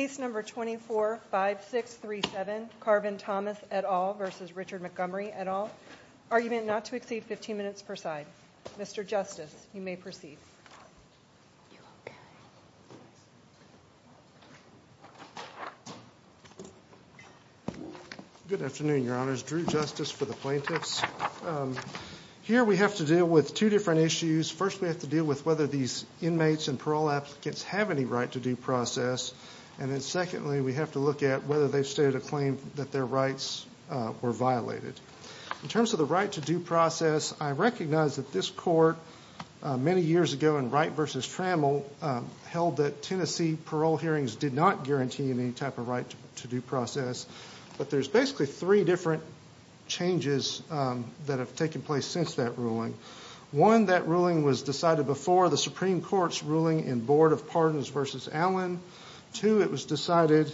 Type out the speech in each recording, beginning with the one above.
at all. Argument not to exceed 15 minutes per side. Mr. Justice, you may proceed. Good afternoon, your honors. Drew Justice for the plaintiffs. Here we have to deal with two different issues. First, we have to deal with whether these inmates and parole applicants have any right-to-do process. And then secondly, we have to look at whether they've stated a claim that their rights were violated. In terms of the right-to-do process, I recognize that this court many years ago in Wright v. Trammell held that Tennessee parole hearings did not guarantee any type of right-to-do process. But there's basically three different changes that have taken place since that ruling. One, that ruling was decided before the Supreme Court in McCardin v. Allen. Two, it was decided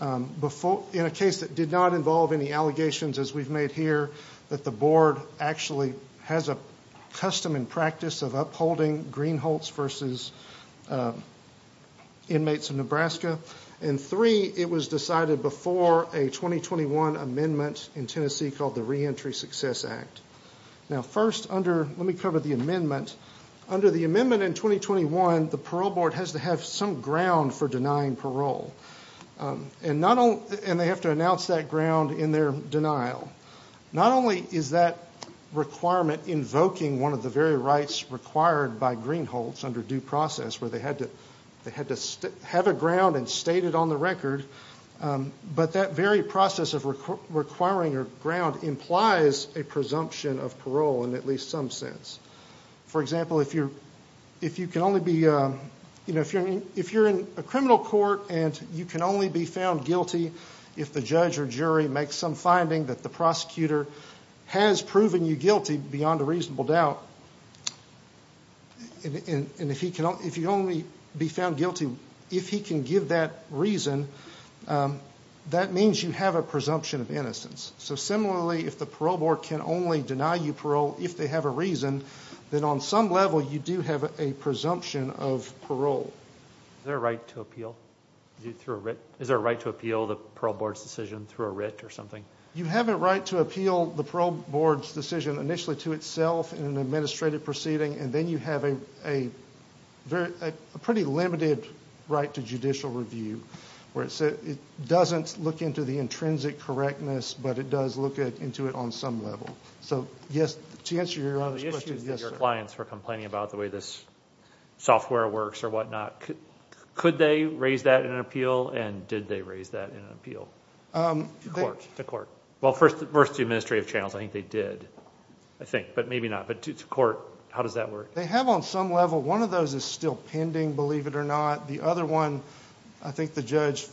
in a case that did not involve any allegations as we've made here, that the board actually has a custom and practice of upholding Greenholts v. Inmates of Nebraska. And three, it was decided before a 2021 amendment in Tennessee called the Reentry Success Act. Now first, let me cover the amendment. Under the amendment in 2021, the parole board has to have some ground for denying parole. And they have to announce that ground in their denial. Not only is that requirement invoking one of the very rights required by Greenholts under due process, where they had to have a ground and state it on the record, but that very process of requiring a ground implies a presumption of parole in at least some sense. For example, if you're in a criminal court and you can only be found guilty if the judge or jury makes some finding that the prosecutor has proven you guilty beyond a reasonable doubt, and if you can only be found guilty if he can give that reason, that means you have a presumption of innocence. So similarly, if the parole board can only deny you parole if they have a reason, then on some level you do have a presumption of parole. Is there a right to appeal? Is there a right to appeal the parole board's decision through a writ or something? You have a right to appeal the parole board's decision initially to itself in an administrative proceeding, and then you have a pretty limited right to judicial review, where it doesn't look into the intrinsic correctness, but it does look into it on some level. So yes, to answer your other question, yes, sir. The issue is that your clients were complaining about the way this software works or whatnot. Could they raise that in an appeal, and did they raise that in an appeal to court? Well, first to administrative channels, I think they did, I think, but maybe not. But to court, how does that work? They have on some level. One of those is still pending, believe it or not. The other one, I think the judge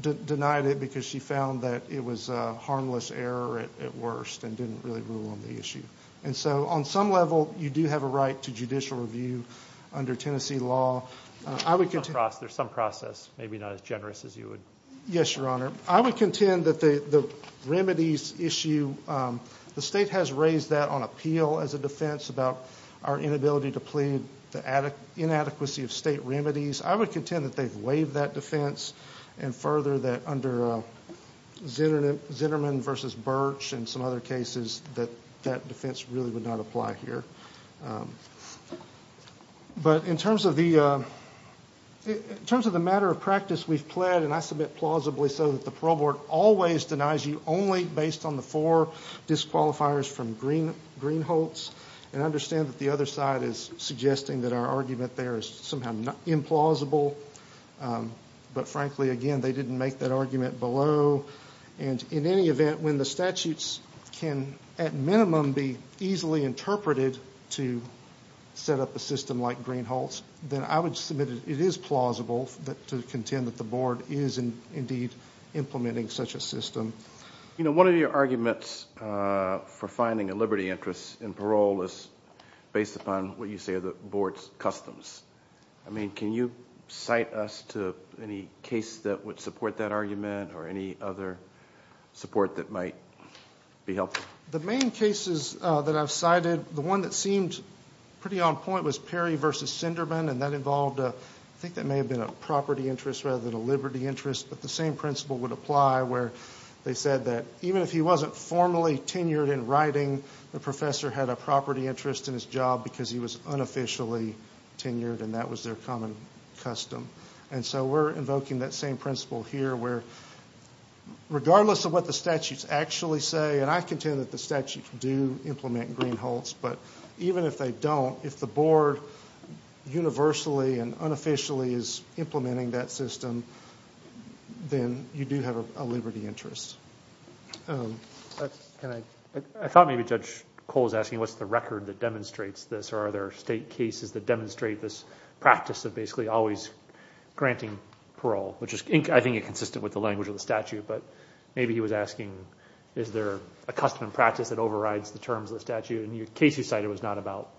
denied it because she found that it was a harmless error at worst and didn't really rule on the issue. And so on some level, you do have a right to judicial review under Tennessee law. There's some process, maybe not as generous as you would... Yes, Your Honor. I would contend that the remedies issue, the state has raised that on appeal as a defense about our inability to plead, the inadequacy of state remedies. I would contend that they've waived that defense, and further that under Zinnerman v. Birch and some other cases that that defense really would not apply here. But in terms of the matter of practice we've pled, and I submit plausibly so that the parole board always denies you only based on the four disqualifiers from Greenholz, and I understand that the other side is suggesting that our argument there is somehow implausible, but frankly again, they didn't make that argument below. And in any event, when the statutes can at minimum be easily interpreted to set up a system like Greenholz, then I would submit it is plausible to contend that the board is indeed implementing such a system. You know, one of your arguments for finding a liberty interest in parole is based upon what you say are the board's customs. I mean, can you cite us to any case that would support that argument or any other support that might be helpful? The main cases that I've cited, the one that seemed pretty on point was Perry v. Zinnerman and that involved, I think that may have been a property interest rather than a liberty interest, but the same principle would apply where they said that even if he wasn't formally tenured in writing, the professor had a property interest in his job because he was unofficially tenured and that was their common custom. And so we're invoking that same principle here where regardless of what the statutes actually say, and I contend that the statutes do implement Greenholz, but even if they don't, if the board universally and unofficially is implementing that system, then you do have a liberty interest. I thought maybe Judge Cole was asking what's the record that demonstrates this or are there state cases that demonstrate this practice of basically always granting parole, which is I think consistent with the language of the statute, but maybe he was asking is there a custom and practice that overrides the terms of the statute? And the case you cited was not about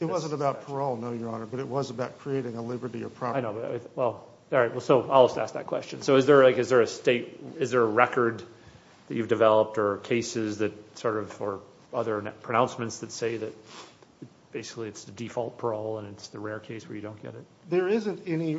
this. It wasn't about parole, no, Your Honor, but it was about creating a liberty or property. I know, well, all right, so I'll just ask that question. So is there a record that you've developed or cases that sort of, or other pronouncements that say that basically it's the default parole and it's the rare case where you don't get it? There isn't any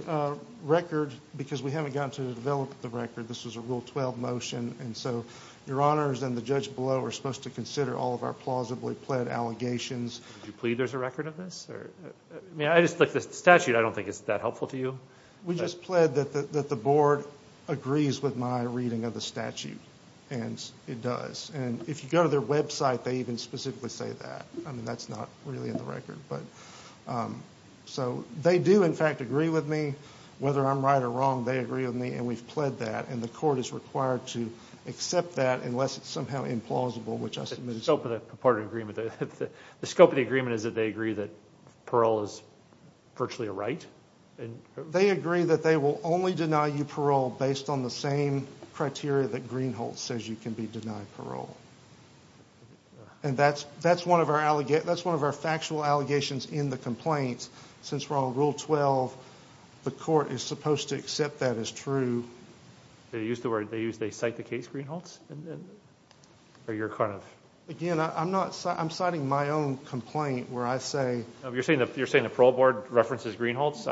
record because we haven't gotten to develop the record. This was a Rule 12 motion and so Your Honors and the judge below are supposed to consider all of our plausibly pled allegations. Do you plead there's a record of this? I mean, I just, like the statute, I don't think it's that helpful to you. We just pled that the board agrees with my reading of the statute and it does. And if you go to their website, they even specifically say that. I mean, that's not really in the record. So they do, in fact, agree with me. Whether I'm right or wrong, they agree with me and we've pled that and the court is required to accept that unless it's somehow implausible, which I submit as well. The scope of the agreement, the scope of the agreement is that they agree that parole is virtually a right? They agree that they will only deny you parole based on the same criteria that Greenhalgh says you can be denied parole. And that's one of our factual allegations in the complaint. Since we're on Rule 12, the court is supposed to accept that as true. They use the word, they cite the case, Greenhalgh's, or you're kind of... Again, I'm not, I'm citing my own complaint where I say... You're saying the parole board references Greenhalgh's?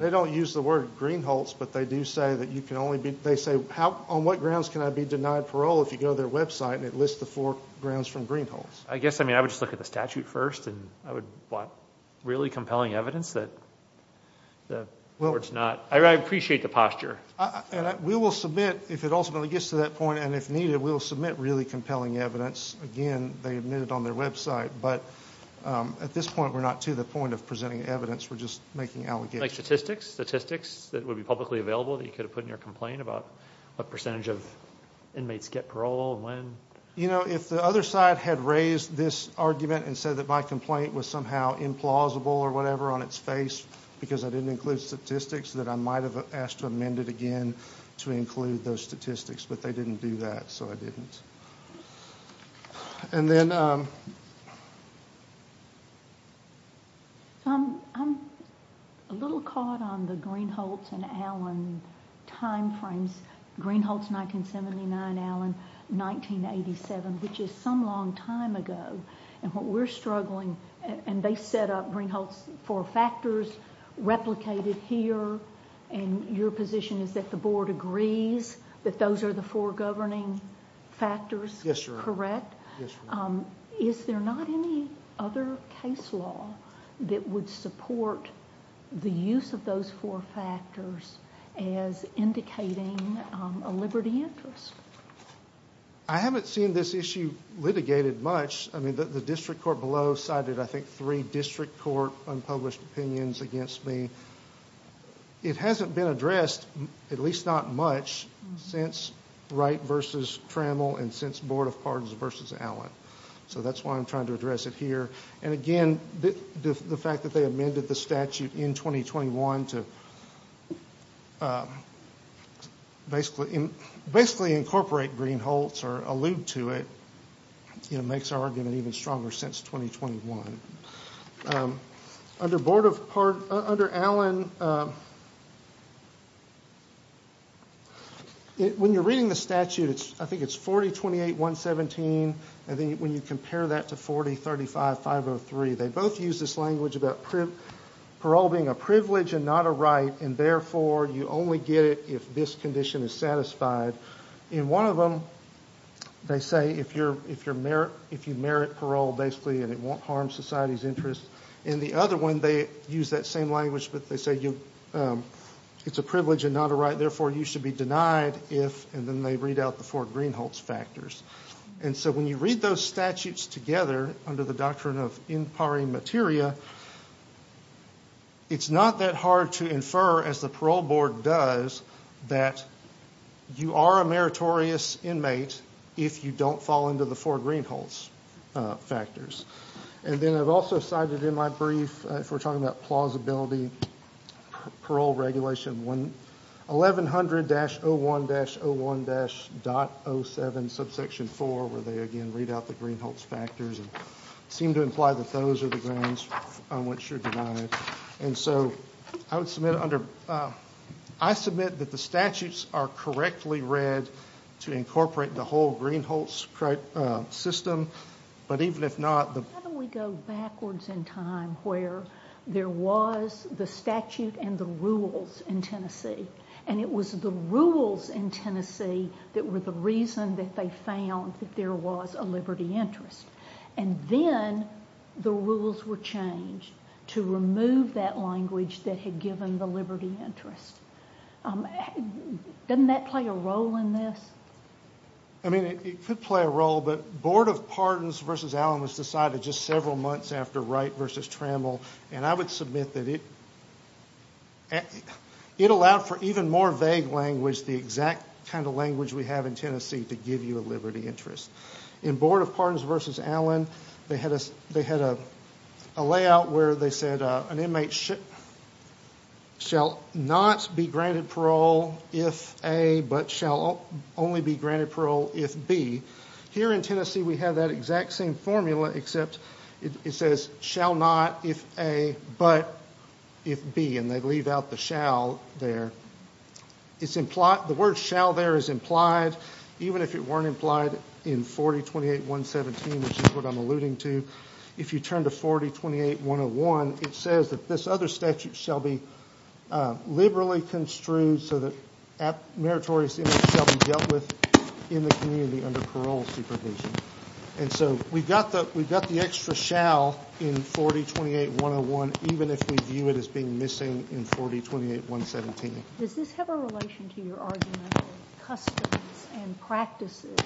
They don't use the word Greenhalgh's, but they do say that you can only be, they say how, on what grounds can I be denied parole if you go to their website and it lists the four grounds from Greenhalgh's? I guess, I mean, I would just look at the statute first and I would want really compelling evidence that the board's not... I appreciate the posture. We will submit, if it ultimately gets to that point, and if needed, we will submit really compelling evidence. Again, they admit it on their website, but at this point we're not to the point of presenting evidence, we're just making allegations. Like statistics? Statistics that would be publicly available that you could have put in your complaint about what percentage of inmates get parole, when? You know, if the other side had raised this argument and said that my complaint was somehow implausible or whatever on its face because I didn't include statistics that I might have asked to amend it again to include those statistics, but they didn't do that, so I didn't. And then... I'm a little caught on the Greenhalgh's and Allen timeframes. Greenhalgh's 1979, Allen 1987, which is some long time ago, and what we're struggling, and they set up Greenhalgh's four factors, replicated here, and your position is that the board agrees that those are the four governing factors, correct? Is there not any other case law that would support the use of those four factors as indicating a liberty interest? I haven't seen this issue litigated much. I mean, the district court below cited, I think, three district court unpublished opinions against me. It hasn't been addressed, at least not much, since Wright versus Trammell and since Board of Pardons versus Allen. So that's why I'm trying to address it here. And again, the fact that they amended the statute in 2021 to basically incorporate Greenhalgh's or allude to it, you know, makes our argument even stronger since 2021. Under Allen, when you're reading the statute, I think it's 4028.117, and then when you compare that to 4035.503, they both use this language about parole being a privilege and not a right, and therefore you only get it if this condition is satisfied. In one of them, they say if you merit parole, basically, and it won't harm society's interest. In the other one, they use that same language, but they say it's a privilege and not a right, therefore you should be denied if, and then they read out the four Greenhalgh's factors. And so when you read those statutes together under the doctrine of in pari materia, it's not that hard to infer, as the parole board does, that you are a meritorious inmate if you don't fall into the four Greenhalgh's factors. And then I've also cited in my brief, if we're talking about plausibility, parole regulation 1100-01-01-.07 subsection 4, where they again read out the Greenhalgh's factors and seem to imply that those are the grounds on which you're denied. And so I submit that the statutes are correctly read to incorporate the whole Greenhalgh's system, but even if not... How do we go backwards in time where there was the statute and the rules in Tennessee, and it was the rules in Tennessee that were the reason that they found that there was a liberty interest, and then the rules were changed to remove that language that had given the liberty interest. Doesn't that play a role in this? I mean, it could play a role, but Board of Pardons v. Allen was decided just several months after Wright v. Trammell, and I would submit that it allowed for even more vague language, the exact kind of language we have in Tennessee, to give you a liberty interest. In Board of Pardons v. Allen, they had a layout where they said, an inmate shall not be granted parole if A, but shall only be granted parole if B. Here in Tennessee, we have that exact same formula, except it says, shall not if A, but if B, and they leave out the shall there. The word shall there is implied, even if it weren't implied in 4028.117, which is what I'm alluding to. If you turn to 4028.101, it says that this other statute shall be liberally construed so that meritorious inmates shall be dealt with in the community under parole supervision. And so we've got the extra shall in 4028.101, even if we view it as being missing in 4028.117. Does this have a relation to your argument that customs and practices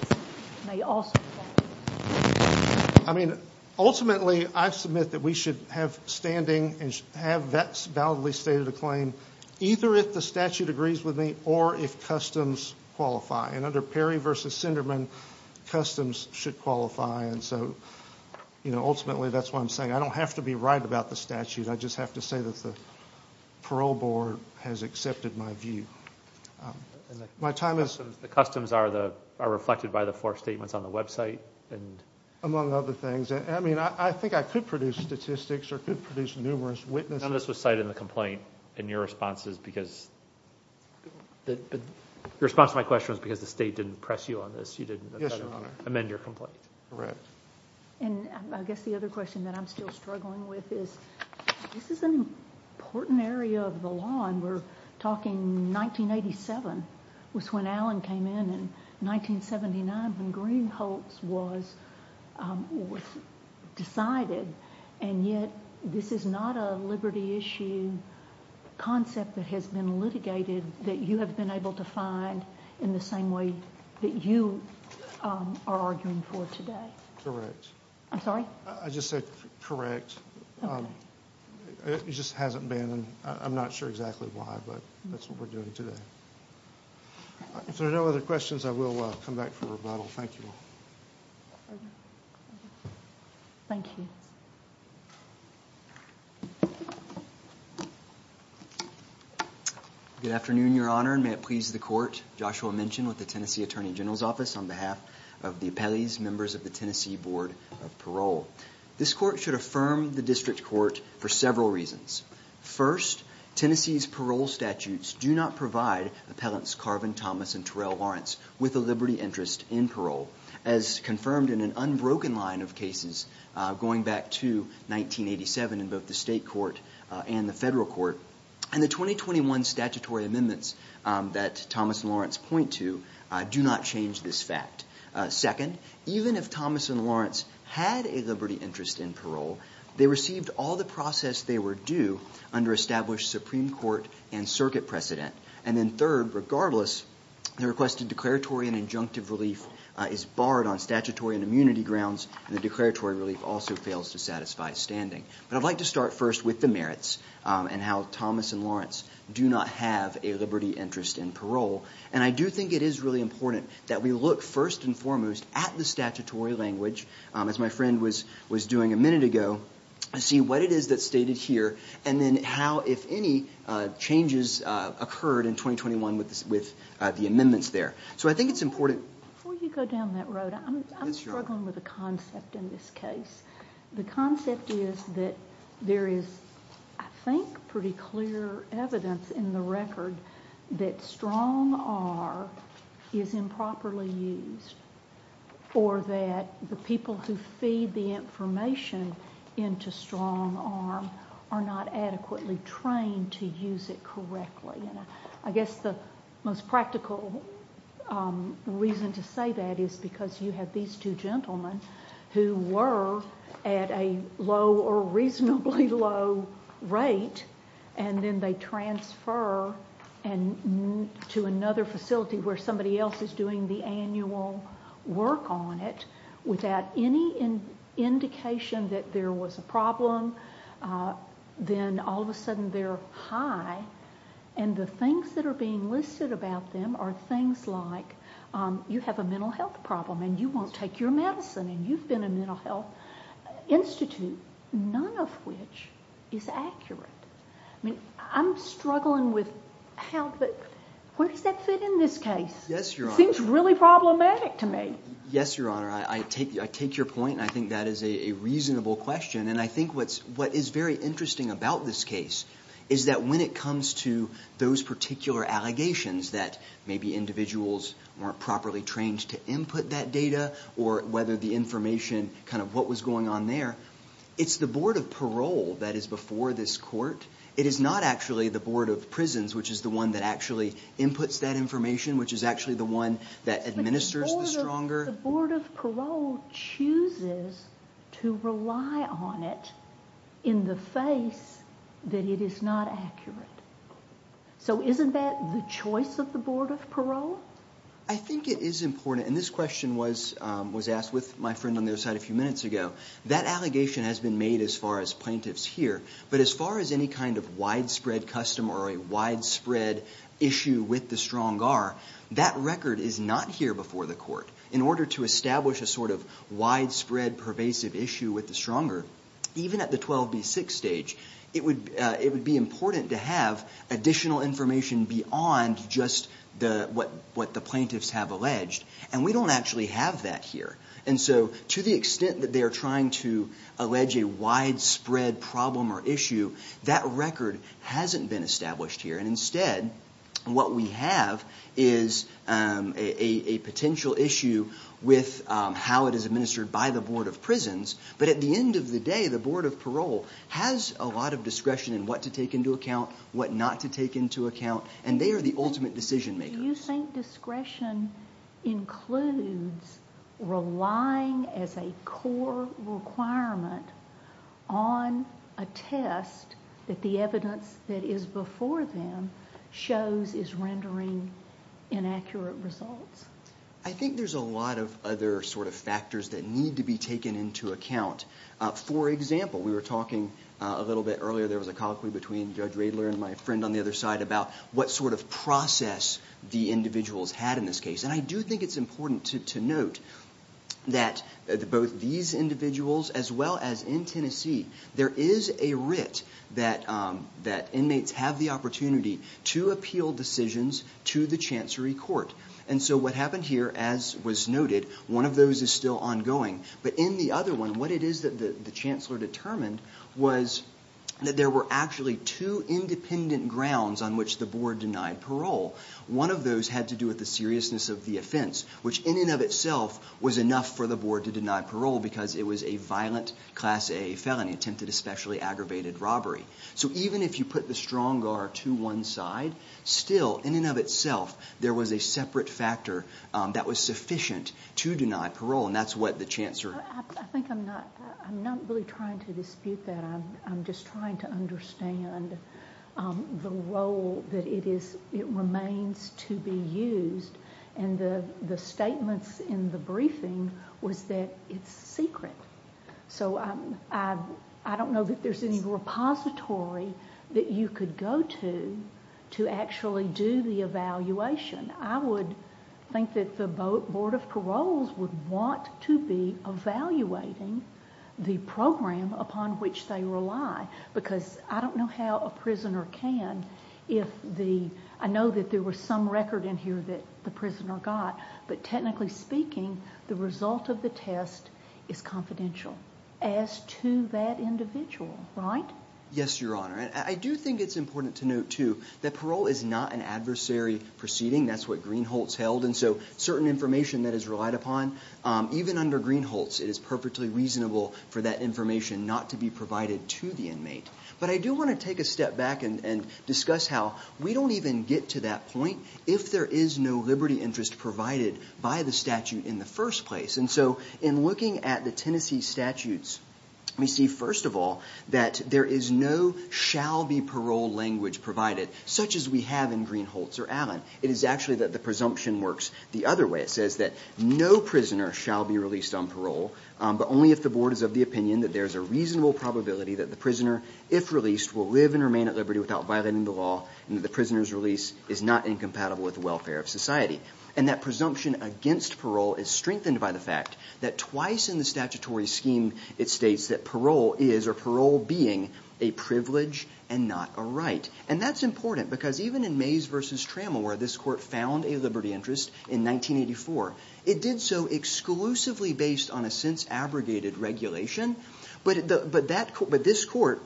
may also play a role? I mean, ultimately, I submit that we should have standing and have that validly stated a claim, either if the statute agrees with me or if customs qualify. And under Perry v. Sinderman, customs should qualify. And so, you know, ultimately, that's what I'm saying. I don't have to be right about the statute. I just have to say that the parole board has accepted my view. My time is up. The customs are reflected by the four statements on the website? Among other things. I mean, I think I could produce statistics or could produce numerous witnesses. None of this was cited in the complaint. And your response to my question was because the state didn't press you on this. You didn't amend your complaint. Correct. And I guess the other question that I'm still struggling with is, this is an important area of the law, and we're talking 1987 was when Allen came in, and 1979 when Green hopes was decided, and yet this is not a liberty issue concept that has been litigated that you have been able to find in the same way that you are arguing for today. Correct. I'm sorry? I just said correct. It just hasn't been. I'm not sure exactly why, but that's what we're doing today. If there are no other questions, I will come back for rebuttal. Thank you. Thank you. Good afternoon, Your Honor, and may it please the court. Joshua Minchin with the Tennessee Attorney General's Office on behalf of the appellees, members of the Tennessee Board of Parole. This court should affirm the district court for several reasons. First, Tennessee's parole statutes do not provide appellants Carvin, Thomas, and Terrell Lawrence with a liberty interest in parole, as confirmed in an unbroken line of cases going back to 1987 in both the state court and the federal court. And the 2021 statutory amendments that Thomas and Lawrence point to do not change this fact. Second, even if Thomas and Lawrence had a liberty interest in parole, they received all the process they were due under established Supreme Court and circuit precedent. And then third, regardless, the requested declaratory and injunctive relief is barred on statutory and immunity grounds, and the declaratory relief also fails to satisfy standing. But I'd like to start first with the merits and how Thomas and Lawrence do not have a liberty interest in parole. And I do think it is really important that we look first and foremost at the statutory language, as my friend was doing a minute ago, and see what it is that's stated here, and then how, if any, changes occurred in 2021 with the amendments there. So I think it's important... Before you go down that road, I'm struggling with a concept in this case. The concept is that there is, I think, pretty clear evidence in the record that strong R is improperly used, or that the people who feed the information into strong R are not adequately trained to use it correctly. I guess the most practical reason to say that is because you have these two gentlemen who were at a low or reasonably low rate, and then they transfer to another facility where somebody else is doing the annual work on it without any indication that there was a problem. Then all of a sudden they're high, and the things that are being listed about them are things like you have a mental health problem and you won't take your medicine and you've been in a mental health institute, none of which is accurate. I mean, I'm struggling with how... Where does that fit in this case? Yes, Your Honor. It seems really problematic to me. Yes, Your Honor. I take your point, and I think that is a reasonable question, and I think what is very interesting about this case is that when it comes to those particular allegations that maybe individuals weren't properly trained to input that data or whether the information, kind of what was going on there, it's the Board of Parole that is before this court. It is not actually the Board of Prisons, which is the one that actually inputs that information, which is actually the one that administers the stronger... But the Board of Parole chooses to rely on it in the face that it is not accurate. So isn't that the choice of the Board of Parole? I think it is important, and this question was asked with my friend on the other side a few minutes ago. That allegation has been made as far as plaintiffs here, but as far as any kind of widespread custom or a widespread issue with the strong are, that record is not here before the court. In order to establish a sort of widespread pervasive issue with the stronger, even at the 12B6 stage, it would be important to have additional information beyond just what the plaintiffs have alleged, and we don't actually have that here. And so to the extent that they are trying to allege a widespread problem or issue, that record hasn't been established here. And instead, what we have is a potential issue with how it is administered by the Board of Prisons, but at the end of the day, the Board of Parole has a lot of discretion in what to take into account, what not to take into account, and they are the ultimate decision makers. Do you think discretion includes relying as a core requirement on a test that the evidence that is before them shows is rendering inaccurate results? I think there's a lot of other sort of factors that need to be taken into account. For example, we were talking a little bit earlier, there was a colloquy between Judge Radler and my friend on the other side about what sort of process the individuals had in this case. And I do think it's important to note that both these individuals, as well as in Tennessee, there is a writ that inmates have the opportunity to appeal decisions to the Chancery Court. And so what happened here, as was noted, one of those is still ongoing, but in the other one, what it is that the Chancellor determined was that there were actually two independent grounds on which the Board denied parole. One of those had to do with the seriousness of the offense, which, in and of itself, was enough for the Board to deny parole because it was a violent Class A felony, attempted especially aggravated robbery. So even if you put the strong guard to one side, still, in and of itself, there was a separate factor that was sufficient to deny parole, and that's what the Chancellor... I think I'm not... I'm not really trying to dispute that. I'm just trying to understand the role that it is... it remains to be used. And the statements in the briefing was that it's secret. So I don't know that there's any repository that you could go to to actually do the evaluation. I would think that the Board of Paroles would want to be evaluating the program upon which they rely, because I don't know how a prisoner can, if the... I know that there was some record in here that the prisoner got, but technically speaking, the result of the test is confidential as to that individual, right? Yes, Your Honor. I do think it's important to note, too, that parole is not an adversary proceeding. That's what Greenholtz held, and so certain information that is relied upon even under Greenholtz, it is perfectly reasonable for that information not to be provided to the inmate. But I do want to take a step back and discuss how we don't even get to that point if there is no liberty interest provided by the statute in the first place. And so in looking at the Tennessee statutes, we see, first of all, that there is no shall be parole language provided, such as we have in Greenholtz or Allen. It is actually that the presumption works the other way. It says that no prisoner shall be released on parole, but only if the board is of the opinion that there's a reasonable probability that the prisoner, if released, will live and remain at liberty without violating the law and that the prisoner's release is not incompatible with the welfare of society. And that presumption against parole is strengthened by the fact that twice in the statutory scheme it states that parole is or parole being a privilege and not a right. And that's important because even in Mays v. Trammell, where this court found a liberty interest in 1984, it did so exclusively based on a since-abrogated regulation. But this court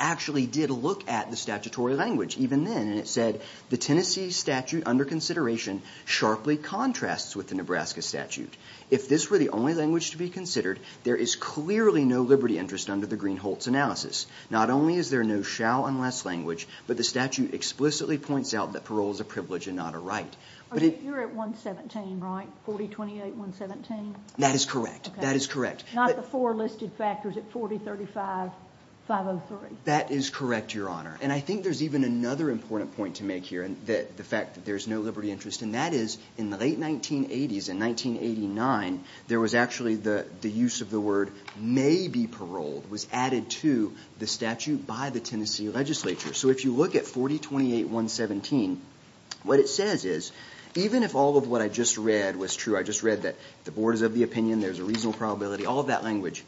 actually did look at the statutory language even then, and it said, the Tennessee statute under consideration sharply contrasts with the Nebraska statute. If this were the only language to be considered, there is clearly no liberty interest under the Greenholtz analysis. Not only is there no shall unless language, but the statute explicitly points out that parole is a privilege and not a right. You're at 117, right? 4028-117? That is correct. That is correct. Not the four listed factors at 4035-503? That is correct, Your Honor. And I think there's even another important point to make here, the fact that there's no liberty interest, and that is in the late 1980s, in 1989, there was actually the use of the word may be paroled, was added to the statute by the Tennessee legislature. So if you look at 4028-117, what it says is, even if all of what I just read was true, I just read that the board is of the opinion, there's a reasonable probability, all of that language,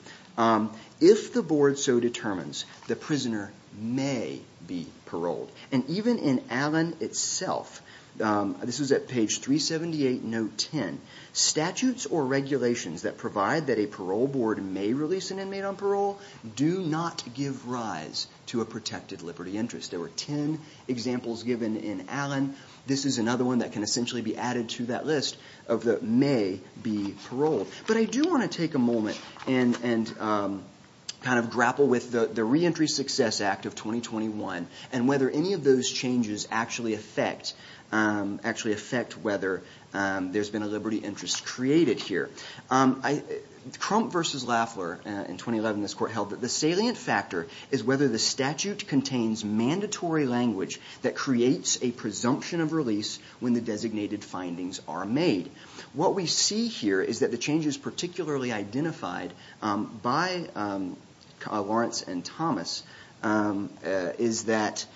if the board so determines the prisoner may be paroled, and even in Allen itself, this was at page 378, note 10, statutes or regulations that provide that a parole board may release an inmate on parole do not give rise to a protected liberty interest. There were 10 examples given in Allen. This is another one that can essentially be added to that list of the may be paroled. But I do want to take a moment and kind of grapple with the Reentry Success Act of 2021 and whether any of those changes actually affect whether there's been a liberty interest created here. Crump versus Lafler in 2011, this court held that the salient factor is whether the statute contains mandatory language that creates a presumption of release when the designated findings are made. What we see here is that the changes particularly identified by Lawrence and Thomas is that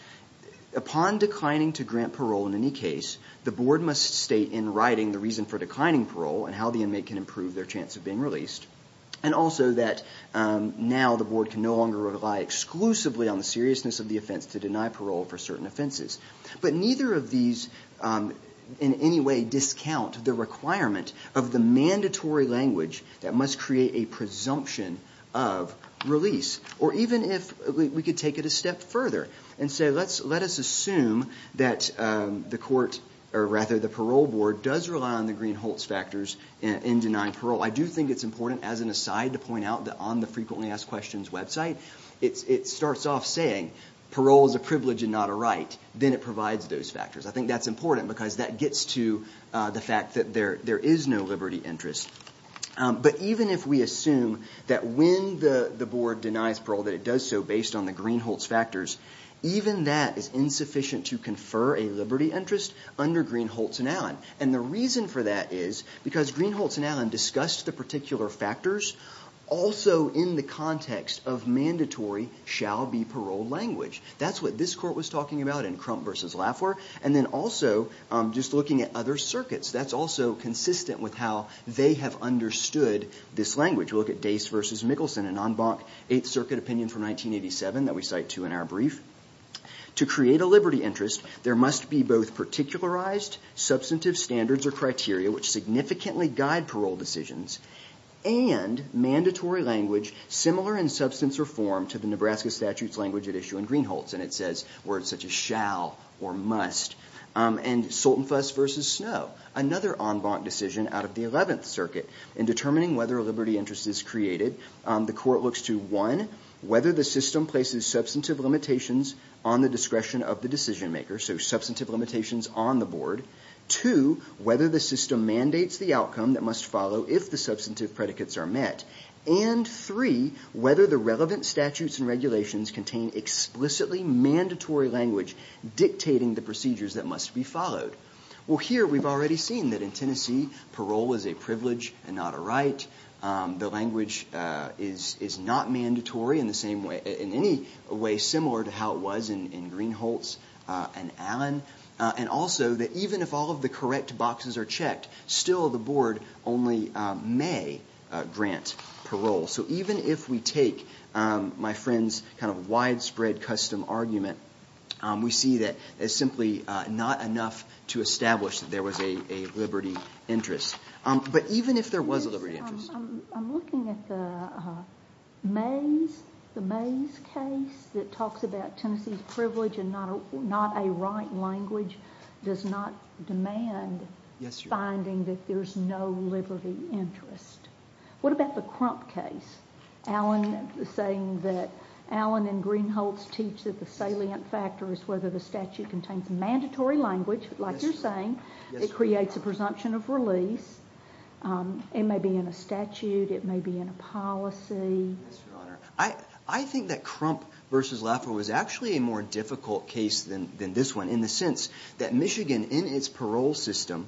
upon declining to grant parole in any case, the board must state in writing the reason for declining parole and how the inmate can improve their chance of being released and also that now the board can no longer rely exclusively on the seriousness of the offense to deny parole for certain offenses. But neither of these in any way discount the requirement of the mandatory language that must create a presumption of release or even if we could take it a step further and say let us assume that the parole board does rely on the Green-Holtz factors in denying parole. I do think it's important as an aside to point out that on the Frequently Asked Questions website it starts off saying parole is a privilege and not a right. Then it provides those factors. I think that's important because that gets to the fact that there is no liberty interest. But even if we assume that when the board denies parole that it does so based on the Green-Holtz factors, even that is insufficient to confer a liberty interest under Green-Holtz and Allen. And the reason for that is because Green-Holtz and Allen discussed the particular factors also in the context of mandatory shall be paroled language. That's what this court was talking about in Crump v. Laffer and then also just looking at other circuits. That's also consistent with how they have understood this language. Look at Dace v. Mickelson, a non-bank 8th Circuit opinion from 1987 that we cite too in our brief. To create a liberty interest there must be both particularized substantive standards or criteria which significantly guide parole decisions and mandatory language similar in substance or form to the Nebraska statutes language at issue in Green-Holtz. And it says words such as shall or must. And Soltenfuss v. Snow, another en banc decision out of the 11th Circuit in determining whether a liberty interest is created. The court looks to one, whether the system places substantive limitations on the discretion of the decision maker so substantive limitations on the board. Two, whether the system mandates the outcome that must follow if the substantive predicates are met. And three, whether the relevant statutes and regulations contain explicitly mandatory language dictating the procedures that must be followed. Well here we've already seen that in Tennessee parole is a privilege and not a right. The language is not mandatory in any way similar to how it was in Green-Holtz and Allen. And also that even if all of the correct boxes are checked still the board only may grant parole. So even if we take my friend's kind of widespread custom argument we see that it's simply not enough to establish that there was a liberty interest. But even if there was a liberty interest... I'm looking at the Mays case that talks about Tennessee's privilege and not a right language does not demand finding that there's no liberty interest. What about the Crump case? Allen saying that Allen and Green-Holtz teach that the salient factor is whether the statute contains mandatory language like you're saying. It creates a presumption of release. It may be in a statute. It may be in a policy. I think that Crump v. Laffer was actually a more difficult case than this one in the sense that Michigan in its parole system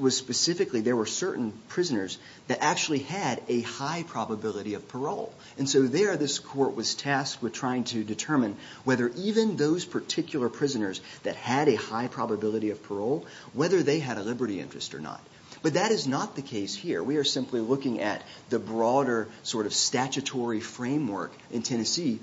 was specifically there were certain prisoners that actually had a high probability of parole. And so there this court was tasked with trying to determine whether even those particular prisoners that had a high probability of parole whether they had a liberty interest or not. But that is not the case here. We are simply looking at the broader sort of statutory framework in Tennessee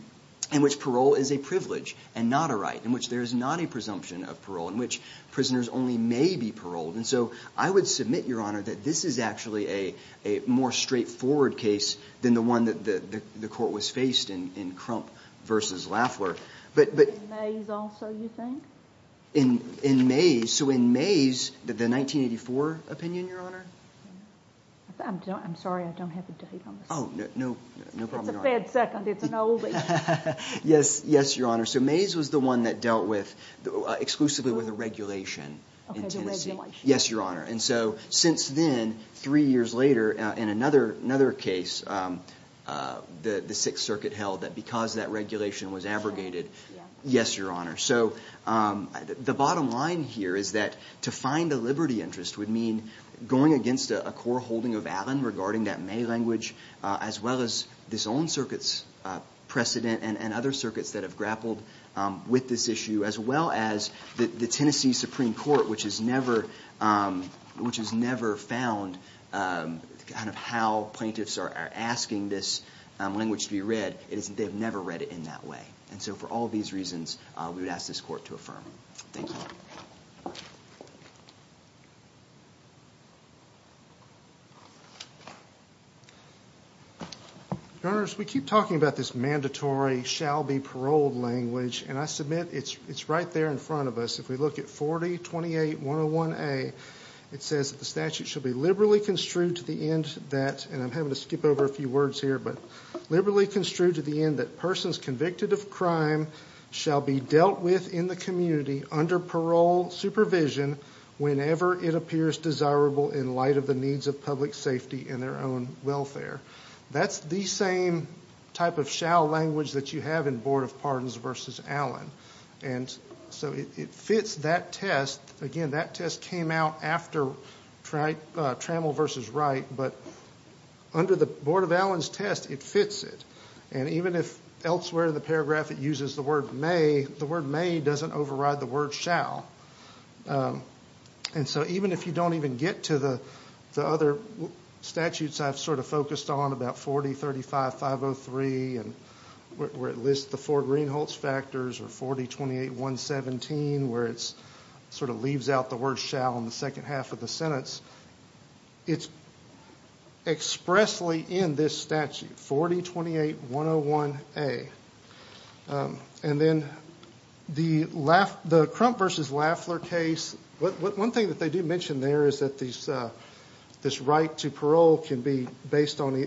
in which parole is a privilege and not a right. In which there is not a presumption of parole. In which prisoners only may be paroled. And so I would submit, Your Honor, that this is actually a more straightforward case than the one that the court was faced in Crump v. Laffer. But... In Mays also, you think? In Mays? So in Mays, the 1984 opinion, Your Honor? I'm sorry, I don't have the date on this. Oh, no problem, Your Honor. It's a bad second, it's an old age. Yes, Your Honor. So Mays was the one that dealt with exclusively with a regulation in Tennessee. Yes, Your Honor. And so since then, three years later, in another case, the Sixth Circuit held that because that regulation was abrogated. Yes, Your Honor. So the bottom line here is that to find a liberty interest would mean going against a core holding of Allen regarding that May language, as well as this own circuit's precedent and other circuits that have grappled with this issue, as well as the Tennessee Supreme Court, which has never found kind of how plaintiffs are asking this language to be read. They've never read it in that way. And so for all these reasons, we would ask this court to affirm it. Thank you. Your Honor, as we keep talking about this mandatory shall be paroled language, and I submit it's right there in front of us. If we look at 4028101A, it says that the statute should be liberally construed to the end that, and I'm having to skip over a few words here, but liberally construed to the end that persons convicted of crime shall be dealt with in the community under parole supervision whenever it appears desirable in light of the needs of public safety and their own welfare. That's the same type of shall language that you have in Board of Pardons v. Allen. And so it fits that test. Again, that test came out after Trammell v. Wright, but under the Board of Allen's test, it fits it. And even if elsewhere in the paragraph it uses the word may, the word may doesn't override the word shall. And so even if you don't even get to the other statutes I've sort of focused on, about 4035503, where it lists the four Greenholtz factors, or 4028117, where it sort of leaves out the word shall in the second half of the sentence, it's expressly in this statute. 4028101A. And then the Crump v. Laffler case, one thing that they do mention there is that this right to parole can be based on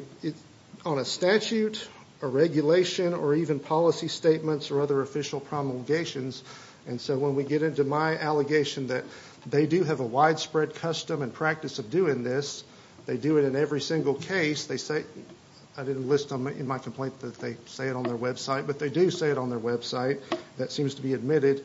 a statute, a regulation, or even policy statements or other official promulgations. And so when we get into my allegation that they do have a widespread custom and practice of doing this, they do it in every single case, I didn't list them in my complaint that they say it on their website, but they do say it on their website. That seems to be admitted.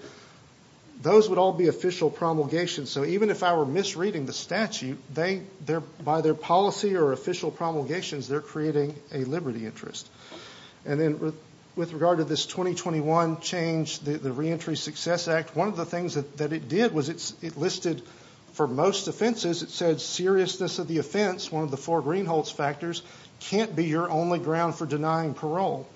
Those would all be official promulgations, so even if I were misreading the statute, by their policy or official promulgations, they're creating a liberty interest. And then with regard to this 2021 change, the Reentry Success Act, one of the things that it did was it listed for most offenses, it said seriousness of the offense, one of the four Greenholts factors, can't be your only ground for denying parole.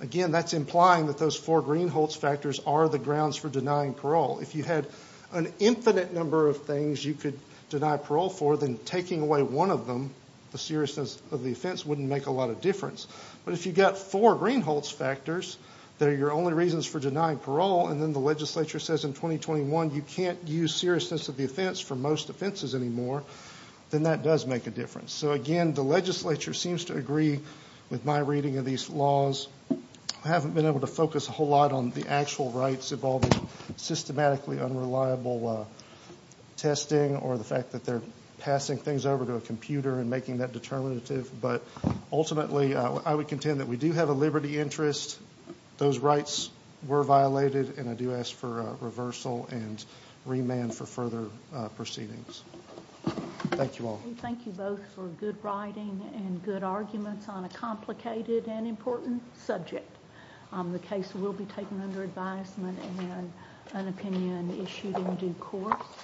Again, that's implying that those four Greenholts factors are the grounds for denying parole. If you had an infinite number of things you could deny parole for, then taking away one of them, the seriousness of the offense, wouldn't make a lot of difference. But if you've got four Greenholts factors that are your only reasons for denying parole, and then the legislature says in 2021 you can't use seriousness of the offense for most offenses anymore, then that does make a difference. So again, the legislature seems to agree with my reading of these laws. I haven't been able to focus a whole lot on the actual rights involving systematically unreliable testing or the fact that they're passing things over to a computer and making that determinative. But ultimately, I would contend that we do have a liberty interest. Those rights were violated, and I do ask for reversal and remand for further proceedings. Thank you all. Thank you both for good writing and good arguments on a complicated and important subject. The case will be taken under advisement and an opinion issued in due course.